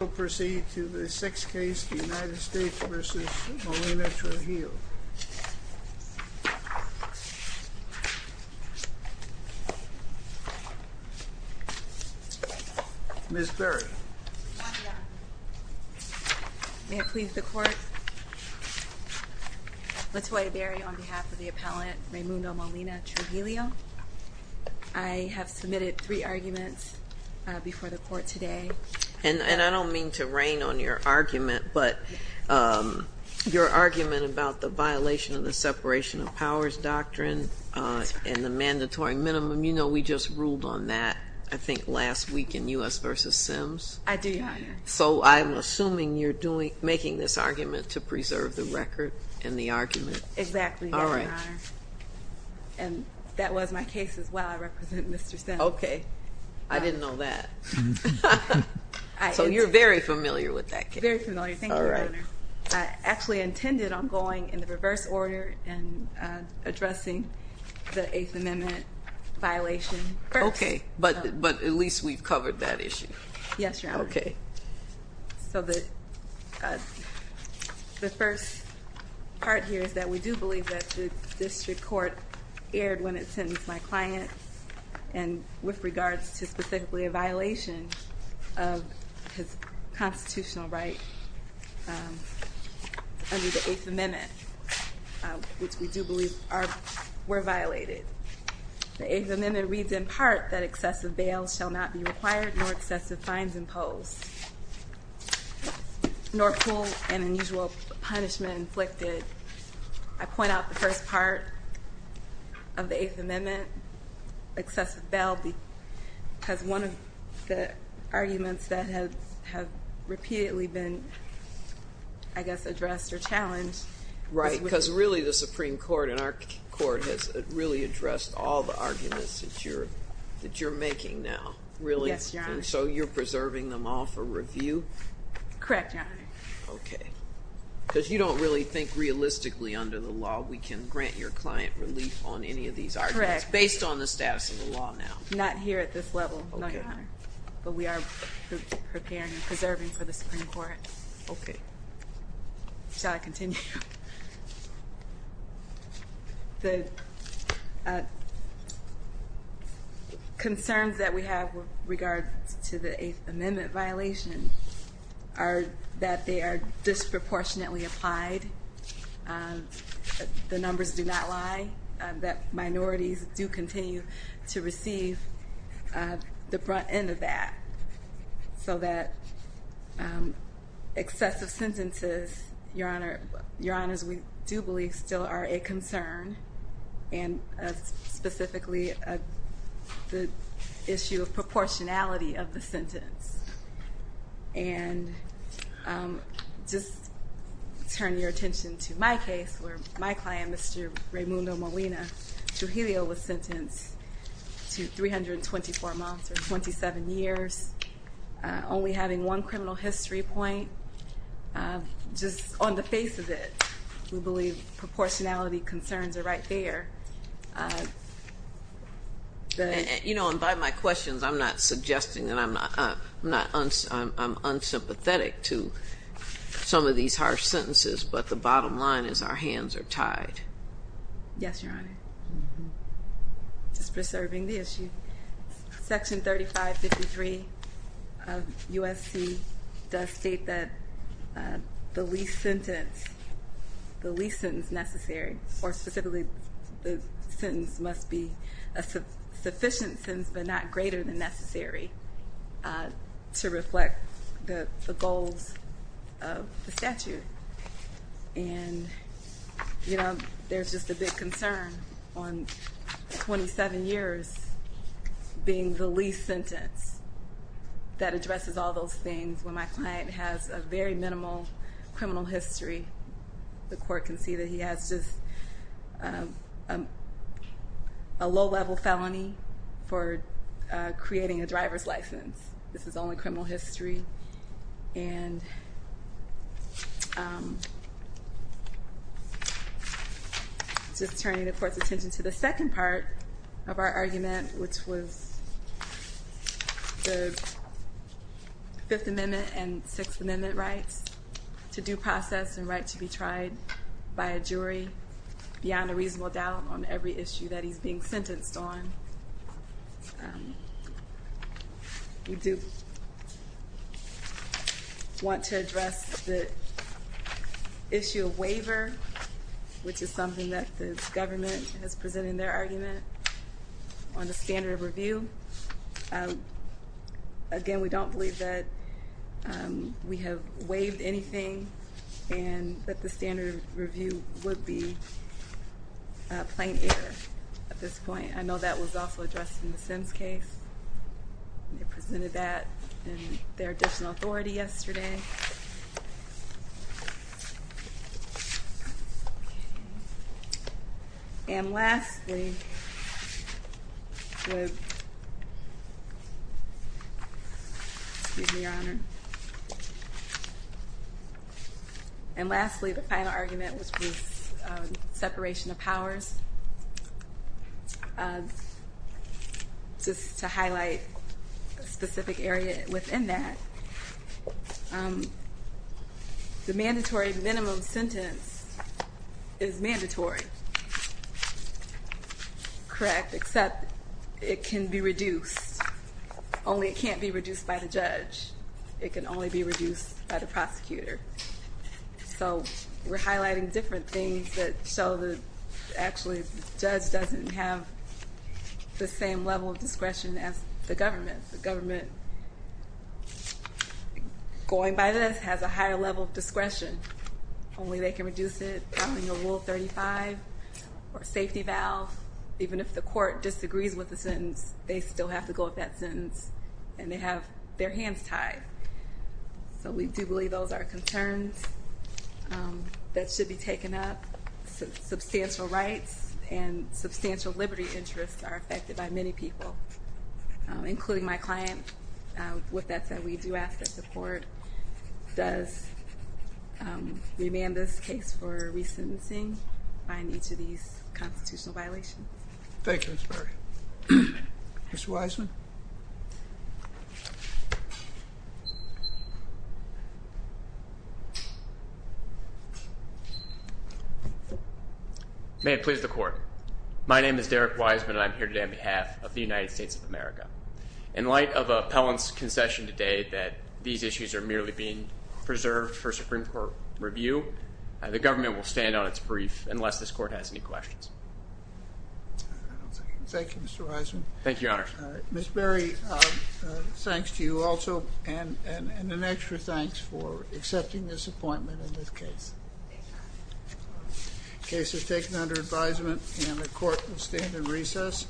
We will proceed to the 6th case, United States v. Molina-Trujillo. Ms. Berry. May it please the court. Latoya Berry on behalf of the appellant, Reymundo Molina-Trujillo. I have submitted three arguments before the court today. And I don't mean to rain on your argument, but your argument about the violation of the separation of powers doctrine and the mandatory minimum, you know we just ruled on that I think last week in U.S. v. Sims. I do, Your Honor. So I'm assuming you're making this argument to preserve the record and the argument. Exactly, Your Honor. All right. And that was my case as well. I represent Mr. Sims. Okay. I didn't know that. So you're very familiar with that case. Very familiar. Thank you, Your Honor. All right. I actually intended on going in the reverse order and addressing the Eighth Amendment violation first. Okay. But at least we've covered that issue. Yes, Your Honor. Okay. So the first part here is that we do believe that the district court erred when it sentenced my client and with regards to specifically a violation of his constitutional right under the Eighth Amendment, which we do believe were violated. The Eighth Amendment reads in part that excessive bail shall not be required nor excessive fines imposed nor cruel and unusual punishment inflicted. I point out the first part of the Eighth Amendment, excessive bail, because one of the arguments that have repeatedly been, I guess, addressed or challenged. Right, because really the Supreme Court and our court has really addressed all the arguments that you're making now, really? Yes, Your Honor. And so you're preserving them all for review? Correct, Your Honor. Okay. Because you don't really think realistically under the law we can grant your client relief on any of these arguments? Correct. Based on the status of the law now? Not here at this level, Your Honor. Okay. But we are preparing and preserving for the Supreme Court. Okay. Shall I continue? The concerns that we have with regards to the Eighth Amendment violation are that they are disproportionately applied, the numbers do not lie, that minorities do continue to receive the front end of that, so that excessive sentences, Your Honors, we do believe still are a concern, and specifically the issue of proportionality of the sentence. And just turn your attention to my case, where my client, Mr. Raymundo Molina Trujillo, was sentenced to 324 months or 27 years, only having one criminal history point. Just on the face of it, we believe proportionality concerns are right there. You know, and by my questions, I'm not suggesting that I'm unsympathetic to some of these harsh sentences, but the bottom line is our hands are tied. Yes, Your Honor. Just preserving the issue. Section 3553 of USC does state that the least sentence, the least sentence necessary, or specifically the sentence must be a sufficient sentence but not greater than necessary to reflect the goals of the statute. And, you know, there's just a big concern on 27 years being the least sentence that addresses all those things. When my client has a very minimal criminal history, the court can see that he has just a low-level felony for creating a driver's license. This is only criminal history. And just turning the court's attention to the second part of our argument, which was the Fifth Amendment and Sixth Amendment rights to due process and right to be tried by a jury beyond a reasonable doubt on every issue that he's being sentenced on. We do want to address the issue of waiver, which is something that the government has presented in their argument on the standard of review. Again, we don't believe that we have waived anything and that the standard of review would be plain error at this point. I know that was also addressed in the Sims case. They presented that in their additional authority yesterday. And lastly, the final argument was with separation of powers. Just to highlight a specific area within that, the mandatory minimum sentence is mandatory, correct, except it can be reduced. Only it can't be reduced by the judge. It can only be reduced by the prosecutor. So we're highlighting different things that show that actually the judge doesn't have the same level of discretion as the government. The government, going by this, has a higher level of discretion. Only they can reduce it following a Rule 35 or safety valve. Even if the court disagrees with the sentence, they still have to go with that sentence and they have their hands tied. So we do believe those are concerns that should be taken up. Substantial rights and substantial liberty interests are affected by many people, including my client. With that said, we do ask that the court does remand this case for resentencing on each of these constitutional violations. Thank you, Ms. Berry. Mr. Wiseman? May it please the court. My name is Derek Wiseman and I'm here today on behalf of the United States of America. In light of Appellant's concession today that these issues are merely being preserved for Supreme Court review, the government will stand on its brief unless this court has any questions. Thank you, Mr. Wiseman. Thank you, Your Honor. Ms. Berry, thanks to you also and an extra thanks for accepting this appointment in this case. The case is taken under advisement and the court will stand in recess.